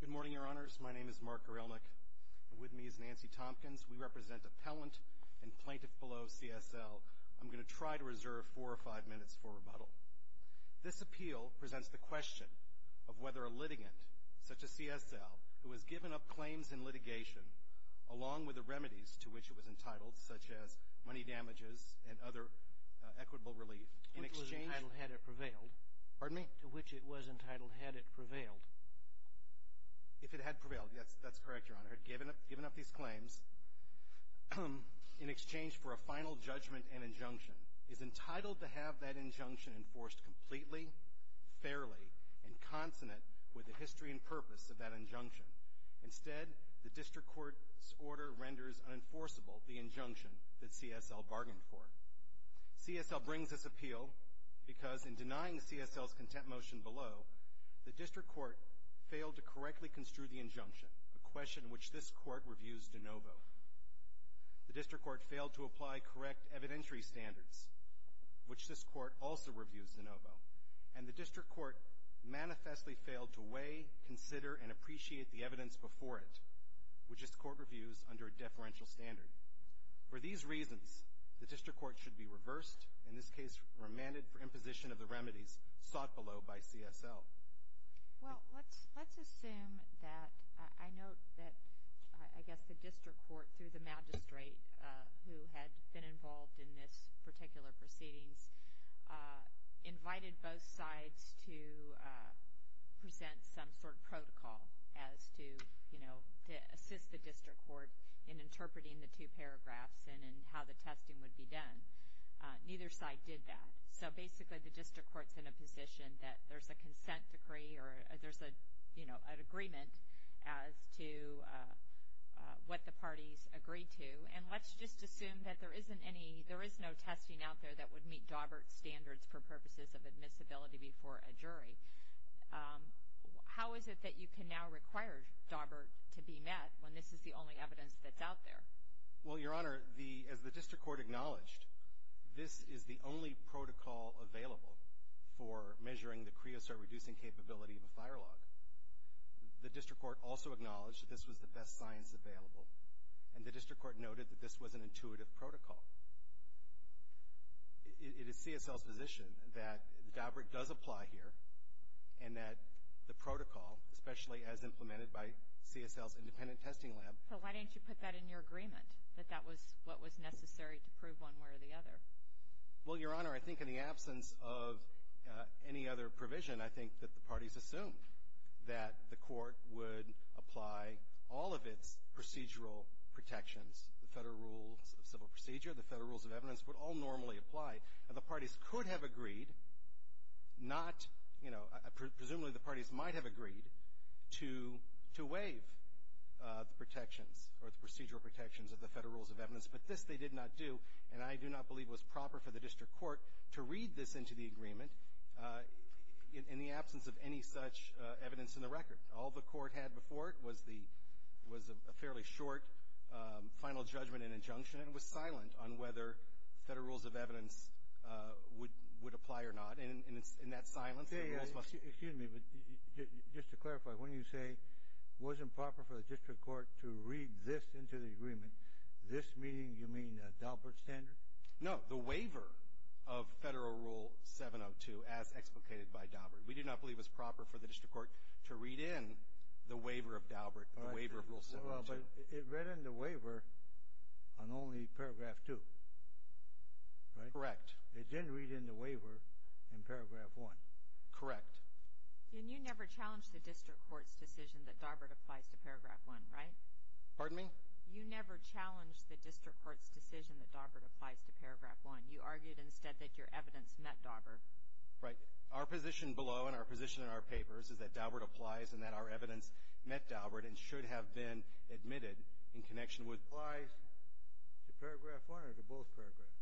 Good morning, Your Honors. My name is Mark Erelmick. With me is Nancy Tompkins. We represent appellant and plaintiff below CSL. I'm going to try to reserve four or five minutes for rebuttal. This appeal presents the question of whether a litigant, such as CSL, who has given up claims in litigation along with the remedies to which it was entitled, such as money damages and other equitable relief, in exchange— Which it was entitled had it prevailed. Pardon me? To which it was entitled had it prevailed. If it had prevailed, yes, that's correct, Your Honor. Had given up these claims in exchange for a final judgment and injunction, is entitled to have that injunction enforced completely, fairly, and consonant with the history and purpose of that injunction. Instead, the district court's order renders unenforceable the injunction that CSL bargained for. CSL brings this appeal because in denying CSL's contempt motion below, the district court failed to correctly construe the injunction, a question which this court reviews de novo. The district court failed to apply correct evidentiary standards, which this court also reviews de novo. And the district court manifestly failed to weigh, consider, and appreciate the evidence before it, which this court reviews under a deferential standard. For these reasons, the district court should be reversed, in this case remanded for imposition of the remedies sought below by CSL. Well, let's assume that—I note that I guess the district court, through the magistrate, who had been involved in this particular proceedings, invited both sides to present some sort of protocol as to, you know, how to assist the district court in interpreting the two paragraphs and in how the testing would be done. Neither side did that. So basically the district court's in a position that there's a consent decree or there's a, you know, an agreement as to what the parties agree to. And let's just assume that there isn't any— there is no testing out there that would meet Dawbert's standards for purposes of admissibility before a jury. How is it that you can now require Dawbert to be met when this is the only evidence that's out there? Well, Your Honor, as the district court acknowledged, this is the only protocol available for measuring the creosote-reducing capability of a fire log. The district court also acknowledged that this was the best science available, and the district court noted that this was an intuitive protocol. It is CSL's position that Dawbert does apply here, and that the protocol, especially as implemented by CSL's independent testing lab— So why didn't you put that in your agreement, that that was what was necessary to prove one way or the other? Well, Your Honor, I think in the absence of any other provision, I think that the parties assumed that the court would apply all of its procedural protections, the Federal Rules of Civil Procedure, the Federal Rules of Evidence, would all normally apply. And the parties could have agreed not—you know, presumably the parties might have agreed to waive the protections or the procedural protections of the Federal Rules of Evidence, but this they did not do, and I do not believe was proper for the district court to read this into the agreement in the absence of any such evidence in the record. All the court had before it was a fairly short final judgment and injunction, and it was silent on whether Federal Rules of Evidence would apply or not, and in that silence— Excuse me, but just to clarify, when you say it wasn't proper for the district court to read this into the agreement, this meaning you mean Dawbert's standard? No, the waiver of Federal Rule 702 as explicated by Dawbert. We do not believe it was proper for the district court to read in the waiver of Dawbert, the waiver of Rule 702. Well, but it read in the waiver on only paragraph 2, right? Correct. It didn't read in the waiver in paragraph 1. Correct. And you never challenged the district court's decision that Dawbert applies to paragraph 1, right? Pardon me? You never challenged the district court's decision that Dawbert applies to paragraph 1. You argued instead that your evidence met Dawbert. Right. Our position below and our position in our papers is that Dawbert applies and that our evidence met Dawbert and should have been admitted in connection with— Applies to paragraph 1 or to both paragraphs?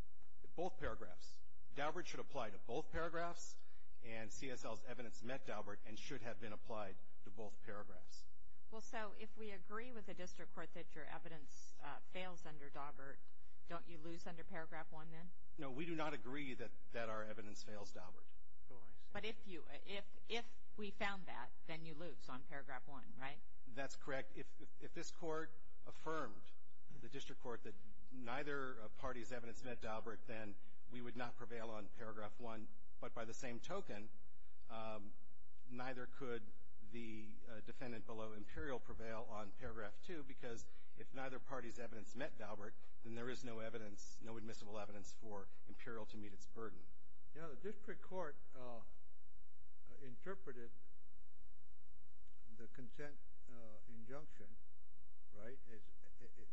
Both paragraphs. Dawbert should apply to both paragraphs, and CSL's evidence met Dawbert and should have been applied to both paragraphs. Well, so if we agree with the district court that your evidence fails under Dawbert, don't you lose under paragraph 1 then? No, we do not agree that our evidence fails Dawbert. Oh, I see. But if you—if we found that, then you lose on paragraph 1, right? That's correct. If this court affirmed to the district court that neither party's evidence met Dawbert, then we would not prevail on paragraph 1. But by the same token, neither could the defendant below Imperial prevail on paragraph 2 because if neither party's evidence met Dawbert, then there is no evidence, no admissible evidence for Imperial to meet its burden. You know, the district court interpreted the consent injunction, right,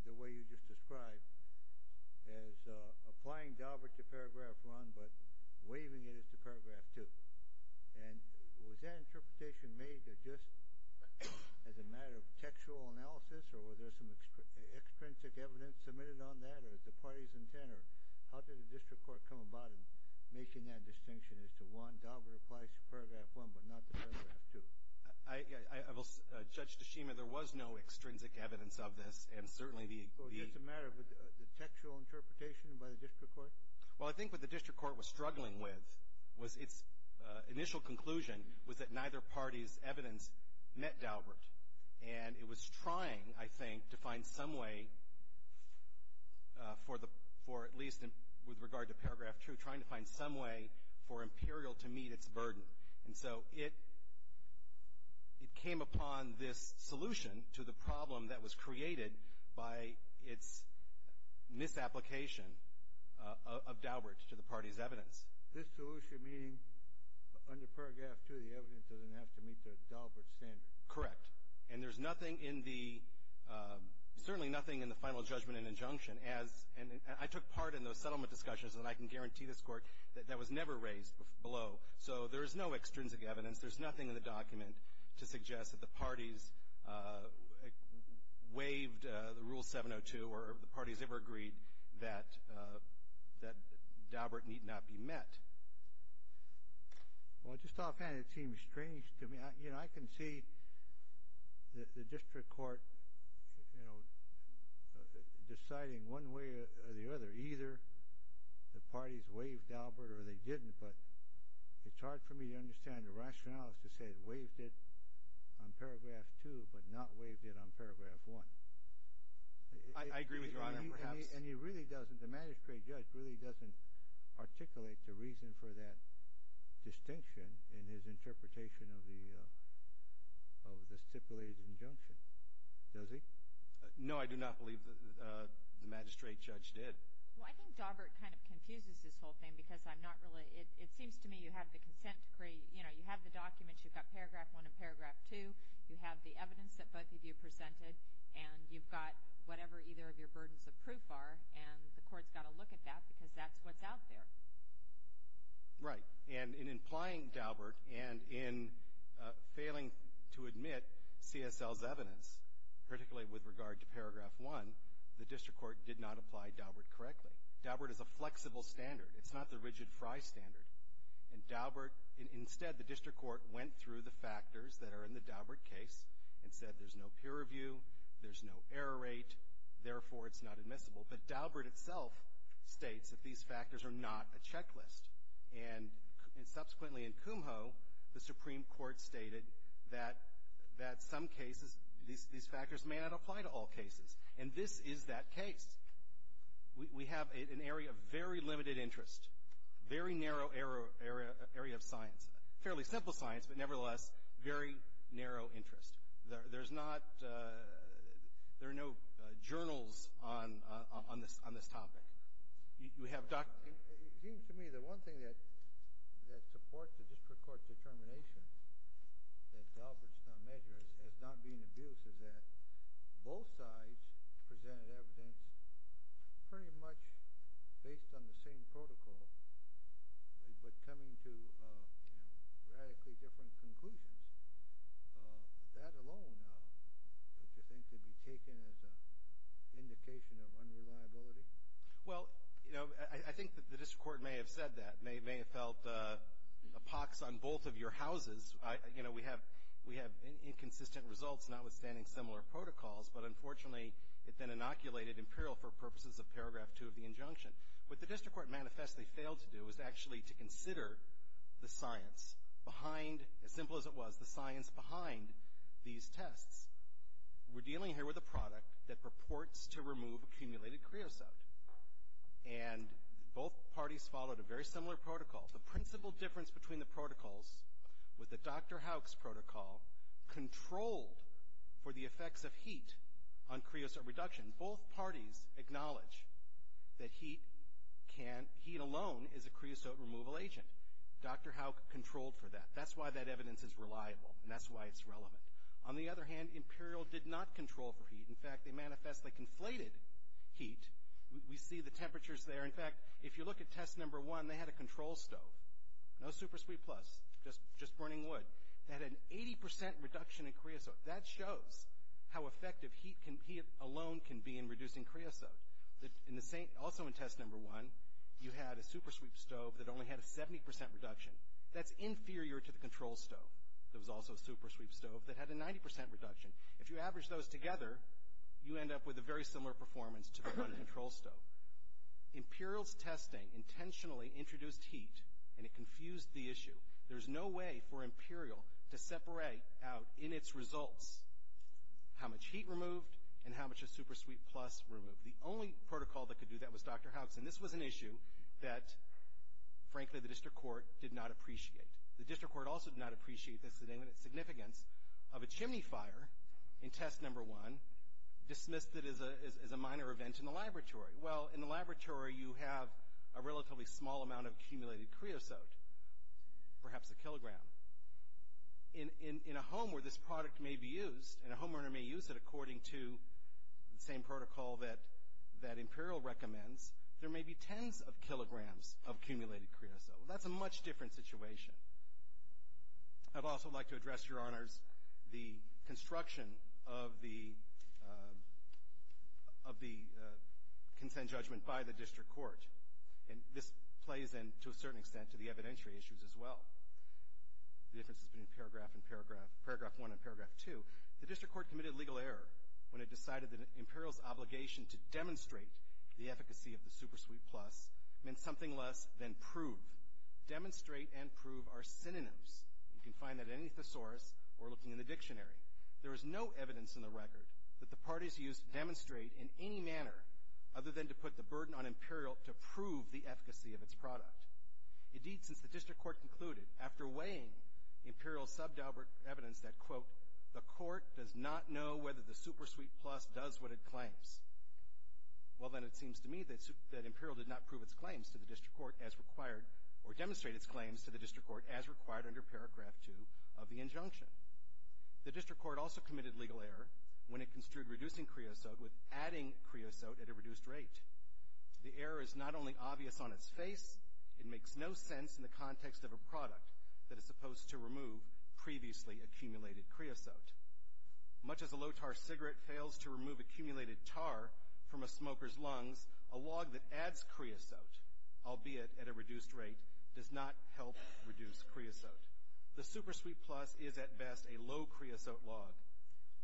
the way you just described, as applying Dawbert to paragraph 1 but waiving it as to paragraph 2. And was that interpretation made just as a matter of textual analysis or was there some extrinsic evidence submitted on that or was it the party's intent or how did the district court come about in making that distinction as to, one, Dawbert applies to paragraph 1 but not to paragraph 2? I will—Judge Tashima, there was no extrinsic evidence of this and certainly the— So it's a matter of the textual interpretation by the district court? Well, I think what the district court was struggling with was its initial conclusion was that neither party's evidence met Dawbert. And it was trying, I think, to find some way for the—for at least with regard to paragraph 2, trying to find some way for Imperial to meet its burden. And so it—it came upon this solution to the problem that was created by its misapplication of Dawbert to the party's evidence. This solution meaning under paragraph 2, the evidence doesn't have to meet the Dawbert standard? Correct. And there's nothing in the—certainly nothing in the final judgment and injunction as— and I took part in those settlement discussions and I can guarantee this Court that that was never raised below. So there is no extrinsic evidence. There's nothing in the document to suggest that the parties waived the Rule 702 or the parties ever agreed that—that Dawbert need not be met. Well, just offhand, it seems strange to me. You know, I can see the district court, you know, deciding one way or the other, either the parties waived Dawbert or they didn't, but it's hard for me to understand the rationales to say waived it on paragraph 2 but not waived it on paragraph 1. I agree with Your Honor, perhaps. And he really doesn't—the magistrate judge really doesn't articulate the reason for that distinction in his interpretation of the stipulated injunction, does he? No, I do not believe the magistrate judge did. Well, I think Dawbert kind of confuses this whole thing because I'm not really— it seems to me you have the consent decree, you know, you have the documents, you've got paragraph 1 and paragraph 2, you have the evidence that both of you presented, and you've got whatever either of your burdens of proof are, and the Court's got to look at that because that's what's out there. Right. And in implying Dawbert and in failing to admit CSL's evidence, particularly with regard to paragraph 1, the district court did not apply Dawbert correctly. Dawbert is a flexible standard. It's not the rigid Frye standard. And Dawbert—instead, the district court went through the factors that are in the Dawbert case and said there's no peer review, there's no error rate, therefore it's not admissible. But Dawbert itself states that these factors are not a checklist. And subsequently in Kumho, the Supreme Court stated that some cases, these factors may not apply to all cases. And this is that case. We have an area of very limited interest, very narrow area of science. Fairly simple science, but nevertheless, very narrow interest. There's not—there are no journals on this topic. You have— It seems to me the one thing that supports the district court's determination that Dawbert's measures as not being abused is that both sides presented evidence pretty much based on the same protocol but coming to radically different conclusions. That alone, don't you think, could be taken as an indication of unreliability? Well, you know, I think that the district court may have said that, may have felt a pox on both of your houses. You know, we have inconsistent results notwithstanding similar protocols, but unfortunately it then inoculated Imperial for purposes of paragraph 2 of the injunction. What the district court manifestly failed to do was actually to consider the science behind—as simple as it was—the science behind these tests. We're dealing here with a product that purports to remove accumulated creosote. And both parties followed a very similar protocol. The principal difference between the protocols was that Dr. Hauck's protocol controlled for the effects of heat on creosote reduction. Both parties acknowledge that heat alone is a creosote removal agent. Dr. Hauck controlled for that. That's why that evidence is reliable, and that's why it's relevant. On the other hand, Imperial did not control for heat. In fact, they manifestly conflated heat. We see the temperatures there. In fact, if you look at test number 1, they had a control stove. No SuperSweep Plus, just burning wood. They had an 80 percent reduction in creosote. That shows how effective heat alone can be in reducing creosote. Also in test number 1, you had a SuperSweep stove that only had a 70 percent reduction. That's inferior to the control stove. There was also a SuperSweep stove that had a 90 percent reduction. If you average those together, you end up with a very similar performance to the control stove. Imperial's testing intentionally introduced heat, and it confused the issue. There's no way for Imperial to separate out in its results how much heat removed and how much of SuperSweep Plus removed. The only protocol that could do that was Dr. Hobson. This was an issue that, frankly, the district court did not appreciate. The district court also did not appreciate the significance of a chimney fire in test number 1 dismissed as a minor event in the laboratory. Well, in the laboratory, you have a relatively small amount of accumulated creosote, perhaps a kilogram. In a home where this product may be used, and a homeowner may use it according to the same protocol that Imperial recommends, there may be tens of kilograms of accumulated creosote. That's a much different situation. I'd also like to address, Your Honors, the construction of the consent judgment by the district court. And this plays in, to a certain extent, to the evidentiary issues as well. The difference is between paragraph 1 and paragraph 2. The district court committed legal error when it decided that Imperial's obligation to demonstrate the efficacy of the SuperSweep Plus meant something less than prove. Demonstrate and prove are synonyms. You can find that in any thesaurus or looking in the dictionary. There is no evidence in the record that the parties used demonstrate in any manner other than to put the burden on Imperial to prove the efficacy of its product. Indeed, since the district court concluded, after weighing Imperial's subdouble evidence that, quote, the court does not know whether the SuperSweep Plus does what it claims, well then it seems to me that Imperial did not prove its claims to the district court as required, or demonstrate its claims to the district court as required under paragraph 2 of the injunction. The district court also committed legal error when it construed reducing creosote with adding creosote at a reduced rate. The error is not only obvious on its face, it makes no sense in the context of a product that is supposed to remove previously accumulated creosote. Much as a low-tar cigarette fails to remove accumulated tar from a smoker's lungs, a log that adds creosote, albeit at a reduced rate, does not help reduce creosote. The SuperSweep Plus is, at best, a low-creosote log.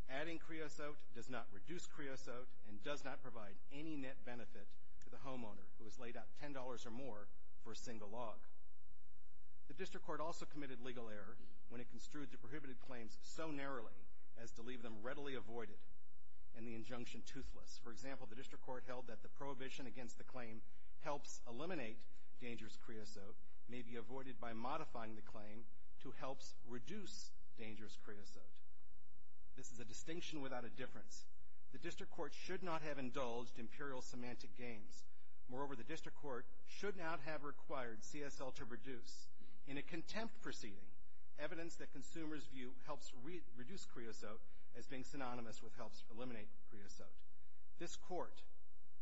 Adding creosote does not reduce creosote and does not provide any net benefit to the homeowner who has laid out $10 or more for a single log. The district court also committed legal error when it construed the prohibited claims so narrowly as to leave them readily avoided and the injunction toothless. For example, the district court held that the prohibition against the claim helps eliminate dangerous creosote may be avoided by modifying the claim to helps reduce dangerous creosote. This is a distinction without a difference. The district court should not have indulged imperial semantic games. Moreover, the district court should not have required CSL to produce, in a contempt proceeding, evidence that consumers' view helps reduce creosote as being synonymous with helps eliminate creosote. This court,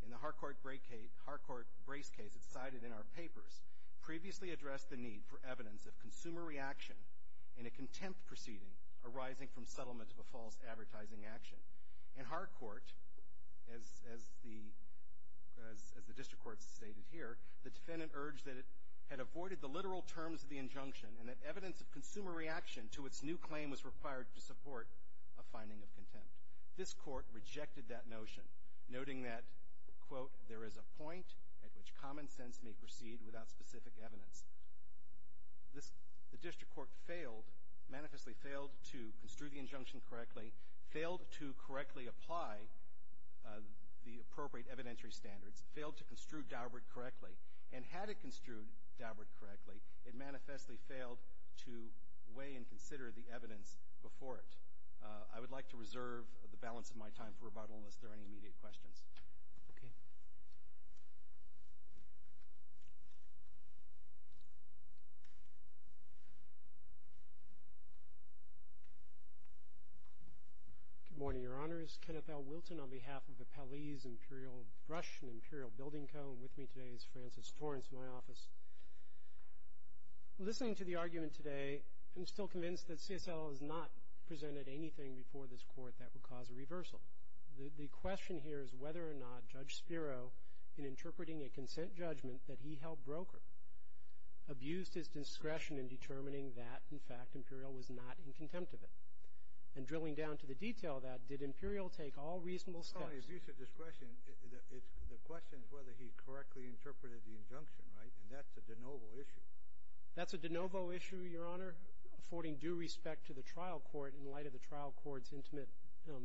in the Harcourt Brace case it's cited in our papers, previously addressed the need for evidence of consumer reaction in a contempt proceeding arising from settlement of a false advertising action. In Harcourt, as the district court has stated here, the defendant urged that it had avoided the literal terms of the injunction and that evidence of consumer reaction to its new claim was required to support a finding of contempt. This court rejected that notion, noting that, quote, which common sense may proceed without specific evidence. The district court failed, manifestly failed, to construe the injunction correctly, failed to correctly apply the appropriate evidentiary standards, failed to construe Daubert correctly, and had it construed Daubert correctly, it manifestly failed to weigh and consider the evidence before it. I would like to reserve the balance of my time for rebuttal unless there are any immediate questions. Okay. Good morning, Your Honors. Kenneth L. Wilton on behalf of Appellee's Imperial Brush and Imperial Building Co. and with me today is Francis Torrance in my office. Listening to the argument today, I'm still convinced that CSL has not presented anything before this court that would cause a reversal. The question here is whether or not Judge Spiro, in interpreting a consent judgment that he held broker, abused his discretion in determining that, in fact, Imperial was not in contempt of it. And drilling down to the detail of that, did Imperial take all reasonable steps? No, he abused his discretion. The question is whether he correctly interpreted the injunction, right? And that's a de novo issue. That's a de novo issue, Your Honor, affording due respect to the trial court in light of the trial court's intimate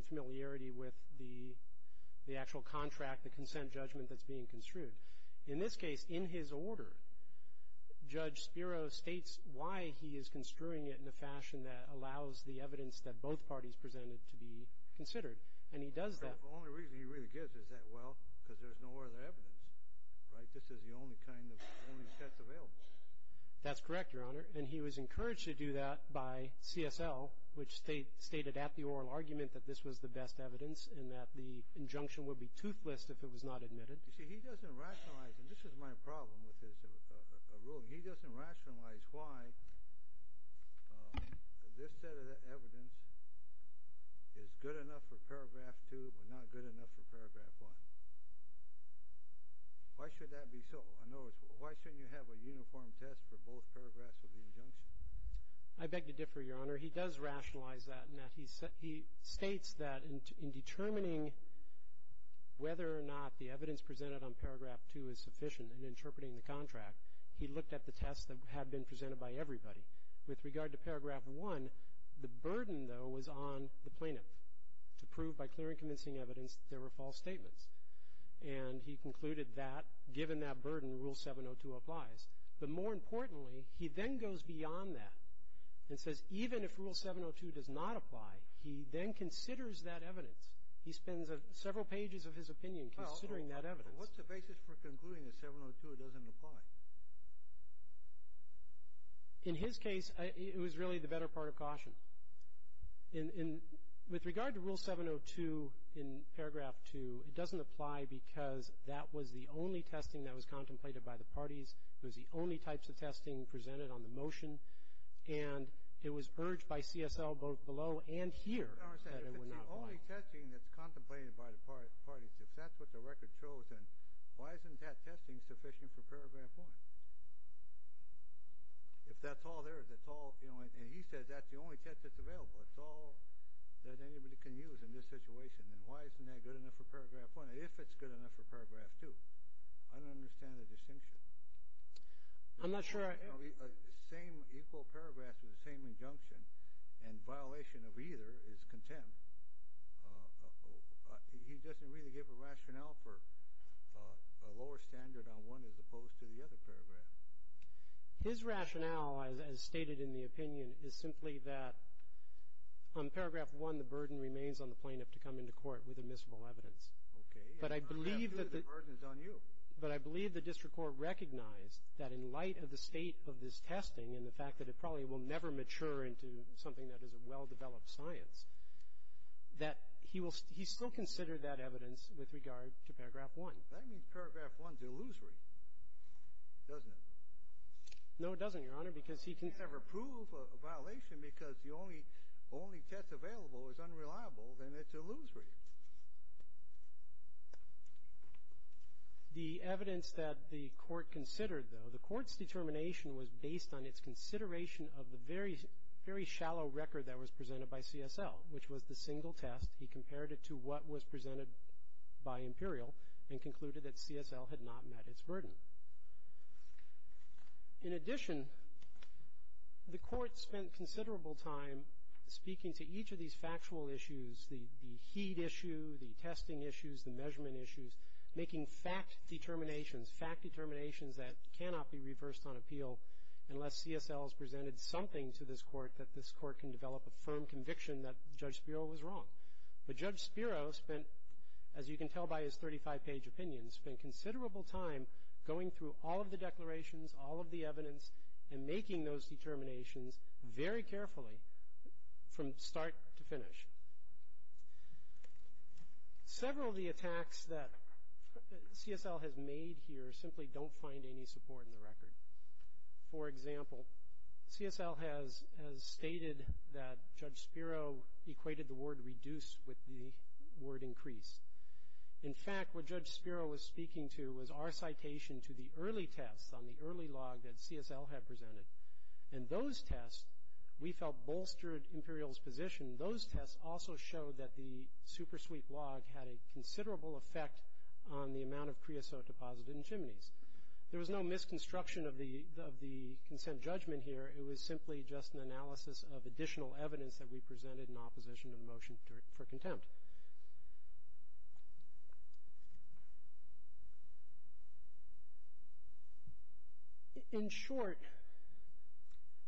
familiarity with the actual contract, the consent judgment that's being construed. In this case, in his order, Judge Spiro states why he is construing it in a fashion that allows the evidence that both parties presented to be considered. And he does that. The only reason he really gives is that, well, because there's no other evidence, right? This is the only kind of evidence that's available. That's correct, Your Honor. And he was encouraged to do that by CSL, which stated at the oral argument that this was the best evidence and that the injunction would be toothless if it was not admitted. You see, he doesn't rationalize it. This is my problem with his ruling. He doesn't rationalize why this set of evidence is good enough for paragraph 2 but not good enough for paragraph 1. Why should that be so? In other words, why shouldn't you have a uniform test for both paragraphs of the injunction? I beg to differ, Your Honor. He does rationalize that in that he states that in determining whether or not the evidence presented on paragraph 2 is sufficient in interpreting the contract, he looked at the tests that had been presented by everybody. With regard to paragraph 1, the burden, though, was on the plaintiff to prove by clear and convincing evidence that there were false statements. And he concluded that given that burden, Rule 702 applies. But more importantly, he then goes beyond that and says even if Rule 702 does not apply, he then considers that evidence. He spends several pages of his opinion considering that evidence. Well, what's the basis for concluding that 702 doesn't apply? In his case, it was really the better part of caution. With regard to Rule 702 in paragraph 2, it doesn't apply because that was the only testing that was contemplated by the parties. It was the only types of testing presented on the motion. And it was urged by CSL both below and here that it would not apply. Your Honor, it's the only testing that's contemplated by the parties. If that's what the record shows, then why isn't that testing sufficient for paragraph 1? If that's all there, that's all, you know, and he says that's the only test that's available, it's all that anybody can use in this situation, then why isn't that good enough for paragraph 1 if it's good enough for paragraph 2? I don't understand the distinction. I'm not sure I am. The same equal paragraphs with the same injunction and violation of either is contempt. Your Honor, he doesn't really give a rationale for a lower standard on one as opposed to the other paragraph. His rationale, as stated in the opinion, is simply that on paragraph 1, the burden remains on the plaintiff to come into court with admissible evidence. Okay. But I believe that the burden is on you. But I believe the district court recognized that in light of the state of this testing and the fact that it probably will never mature into something that is a well-developed science, that he still considered that evidence with regard to paragraph 1. That means paragraph 1 is illusory, doesn't it? No, it doesn't, Your Honor, because he can't ever prove a violation because the only test available is unreliable, then it's illusory. The evidence that the court considered, though, the court's determination was based on its consideration of the very shallow record that was presented by CSL, which was the single test. He compared it to what was presented by Imperial and concluded that CSL had not met its burden. In addition, the court spent considerable time speaking to each of these factual issues, the heat issue, the testing issues, the measurement issues, making fact determinations, fact determinations that cannot be reversed on appeal unless CSL has presented something to this court that this court can develop a firm conviction that Judge Spiro was wrong. But Judge Spiro spent, as you can tell by his 35-page opinion, spent considerable time going through all of the declarations, all of the evidence, and making those determinations very carefully from start to finish. Several of the attacks that CSL has made here simply don't find any support in the record. For example, CSL has stated that Judge Spiro equated the word reduce with the word increase. In fact, what Judge Spiro was speaking to was our citation to the early tests on the early log that CSL had presented, and those tests, we felt, bolstered Imperial's position. Those tests also showed that the super-sweep log had a considerable effect on the amount of creosote deposited in chimneys. There was no misconstruction of the consent judgment here. It was simply just an analysis of additional evidence that we presented in opposition to the motion for contempt. In short,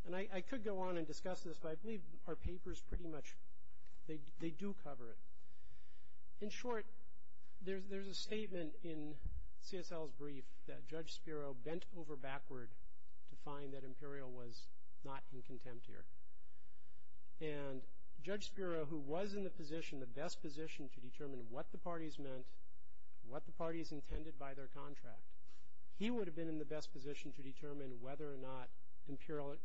and I could go on and discuss this, but I believe our papers pretty much, they do cover it. In short, there's a statement in CSL's brief that Judge Spiro bent over backward to find that Imperial was not in contempt here. And Judge Spiro, who was in the position, the best position, to determine what the parties meant, what the parties intended by their contract, he would have been in the best position to determine whether or not Imperial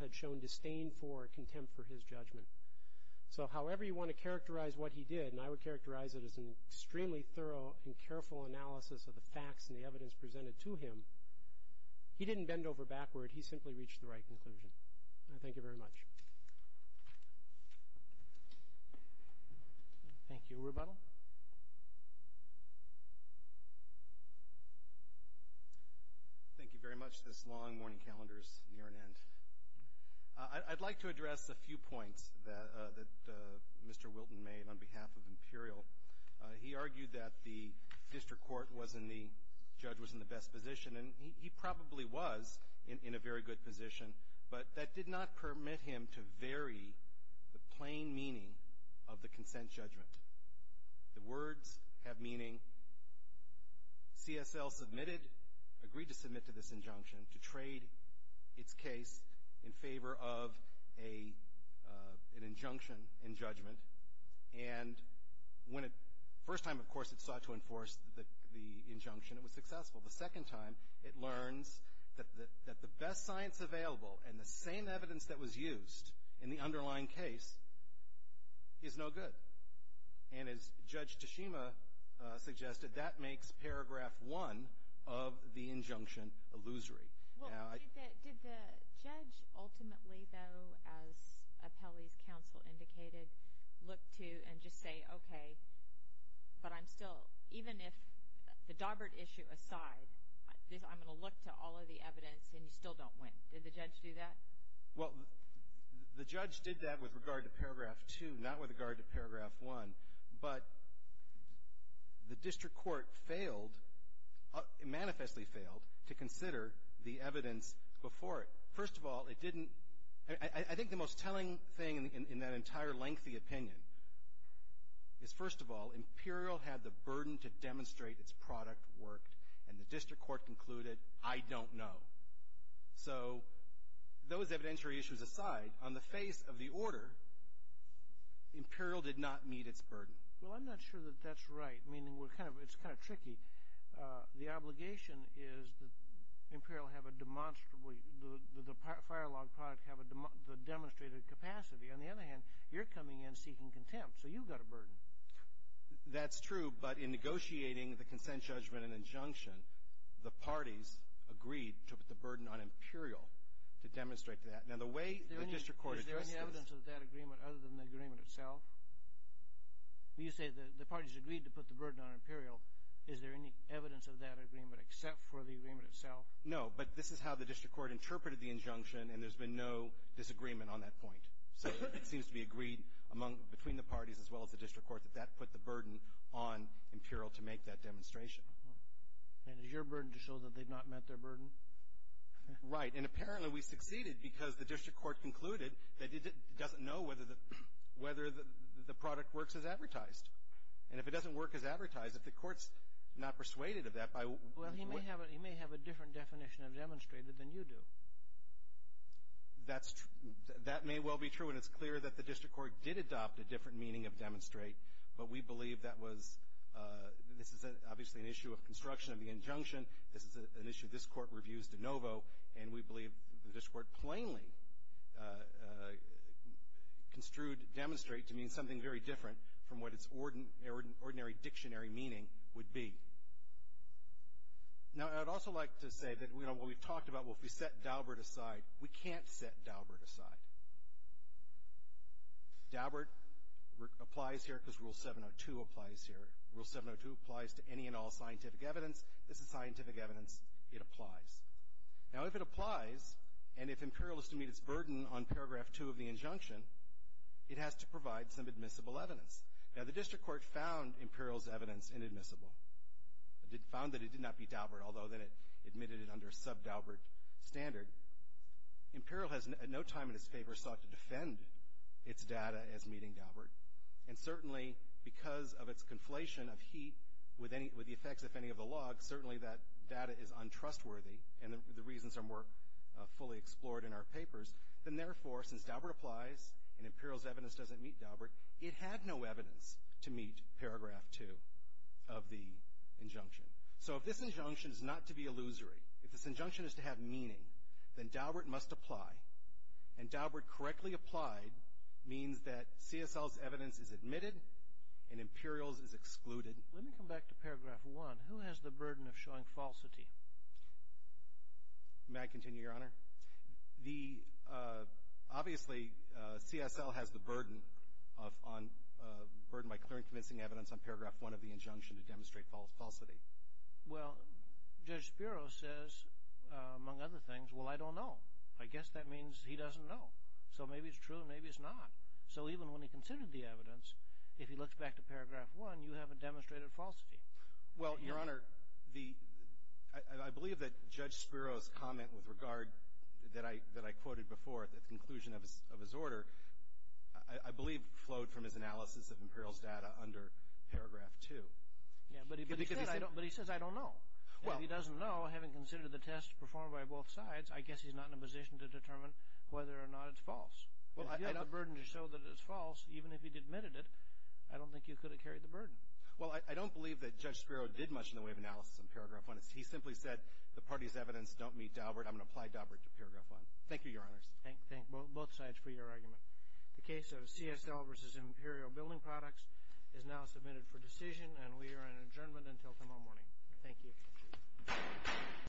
had shown disdain for or contempt for his judgment. So however you want to characterize what he did, and I would characterize it as an extremely thorough and careful analysis of the facts and the evidence presented to him, he didn't bend over backward. He simply reached the right conclusion. Thank you very much. Thank you. Rebuttal. Thank you very much. This long morning calendar is near an end. I'd like to address a few points that Mr. Wilton made on behalf of Imperial. He argued that the district court was in the, the judge was in the best position, and he probably was in a very good position, but that did not permit him to vary the plain meaning of the consent judgment. The words have meaning. CSL submitted, agreed to submit to this injunction to trade its case in favor of an injunction in judgment. And when it, first time, of course, it sought to enforce the injunction, it was successful. The second time, it learns that the best science available and the same evidence that was used in the underlying case is no good. And as Judge Tashima suggested, that makes paragraph one of the injunction illusory. Did the judge ultimately, though, as Appellee's counsel indicated, look to and just say, okay, but I'm still, even if the Dawbert issue aside, I'm going to look to all of the evidence, and you still don't win. Did the judge do that? Well, the judge did that with regard to paragraph two, not with regard to paragraph one. But the district court failed, manifestly failed, to consider the evidence before it. First of all, it didn't, I think the most telling thing in that entire lengthy opinion is, first of all, Imperial had the burden to demonstrate its product worked, and the district court concluded, I don't know. So those evidentiary issues aside, on the face of the order, Imperial did not meet its burden. Well, I'm not sure that that's right, meaning we're kind of, it's kind of tricky. The obligation is that Imperial have a demonstrable, the fire log product have the demonstrated capacity. On the other hand, you're coming in seeking contempt, so you've got a burden. That's true. But in negotiating the consent judgment and injunction, the parties agreed to put the burden on Imperial to demonstrate that. Now, the way the district court addressed this. Is there any evidence of that agreement other than the agreement itself? When you say the parties agreed to put the burden on Imperial, is there any evidence of that agreement except for the agreement itself? No, but this is how the district court interpreted the injunction, and there's been no disagreement on that point. So it seems to be agreed among, between the parties as well as the district court, that that put the burden on Imperial to make that demonstration. And is your burden to show that they've not met their burden? Right. And apparently, we succeeded because the district court concluded that it doesn't know whether the product works as advertised. And if it doesn't work as advertised, if the court's not persuaded of that by what— Well, he may have a different definition of demonstrated than you do. That's—that may well be true, and it's clear that the district court did adopt a different meaning of demonstrate, but we believe that was—this is obviously an issue of construction of the injunction. This is an issue this court reviews de novo, and we believe the district court plainly construed demonstrate to mean something very different from what its ordinary dictionary meaning would be. Now, I'd also like to say that, you know, what we've talked about, well, if we set Daubert aside, we can't set Daubert aside. Daubert applies here because Rule 702 applies here. Rule 702 applies to any and all scientific evidence. This is scientific evidence. It applies. Now, if it applies, and if Imperial is to meet its burden on Paragraph 2 of the injunction, it has to provide some admissible evidence. Now, the district court found Imperial's evidence inadmissible. It found that it did not meet Daubert, although then it admitted it under sub-Daubert standard. Imperial has at no time in its favor sought to defend its data as meeting Daubert, and certainly because of its conflation of heat with the effects, if any, of the log, certainly that data is untrustworthy, and the reasons are more fully explored in our papers. Then, therefore, since Daubert applies and Imperial's evidence doesn't meet Daubert, it had no evidence to meet Paragraph 2 of the injunction. So if this injunction is not to be illusory, if this injunction is to have meaning, then Daubert must apply, and Daubert correctly applied means that CSL's evidence is admitted and Imperial's is excluded. Let me come back to Paragraph 1. Who has the burden of showing falsity? May I continue, Your Honor? Obviously, CSL has the burden by clearing convincing evidence on Paragraph 1 of the injunction to demonstrate falsity. Well, Judge Spiro says, among other things, well, I don't know. I guess that means he doesn't know. So maybe it's true, maybe it's not. So even when he considered the evidence, if he looks back to Paragraph 1, you haven't demonstrated falsity. Well, Your Honor, I believe that Judge Spiro's comment with regard that I quoted before, the conclusion of his order, I believe flowed from his analysis of Imperial's data under Paragraph 2. But he says, I don't know. If he doesn't know, having considered the test performed by both sides, I guess he's not in a position to determine whether or not it's false. If you have the burden to show that it's false, even if he'd admitted it, I don't think you could have carried the burden. Well, I don't believe that Judge Spiro did much in the way of analysis of Paragraph 1. He simply said, the party's evidence don't meet Daubert. I'm going to apply Daubert to Paragraph 1. Thank you, Your Honors. Thank both sides for your argument. The case of CSL v. Imperial Building Products is now submitted for decision, and we are on adjournment until tomorrow morning. Thank you.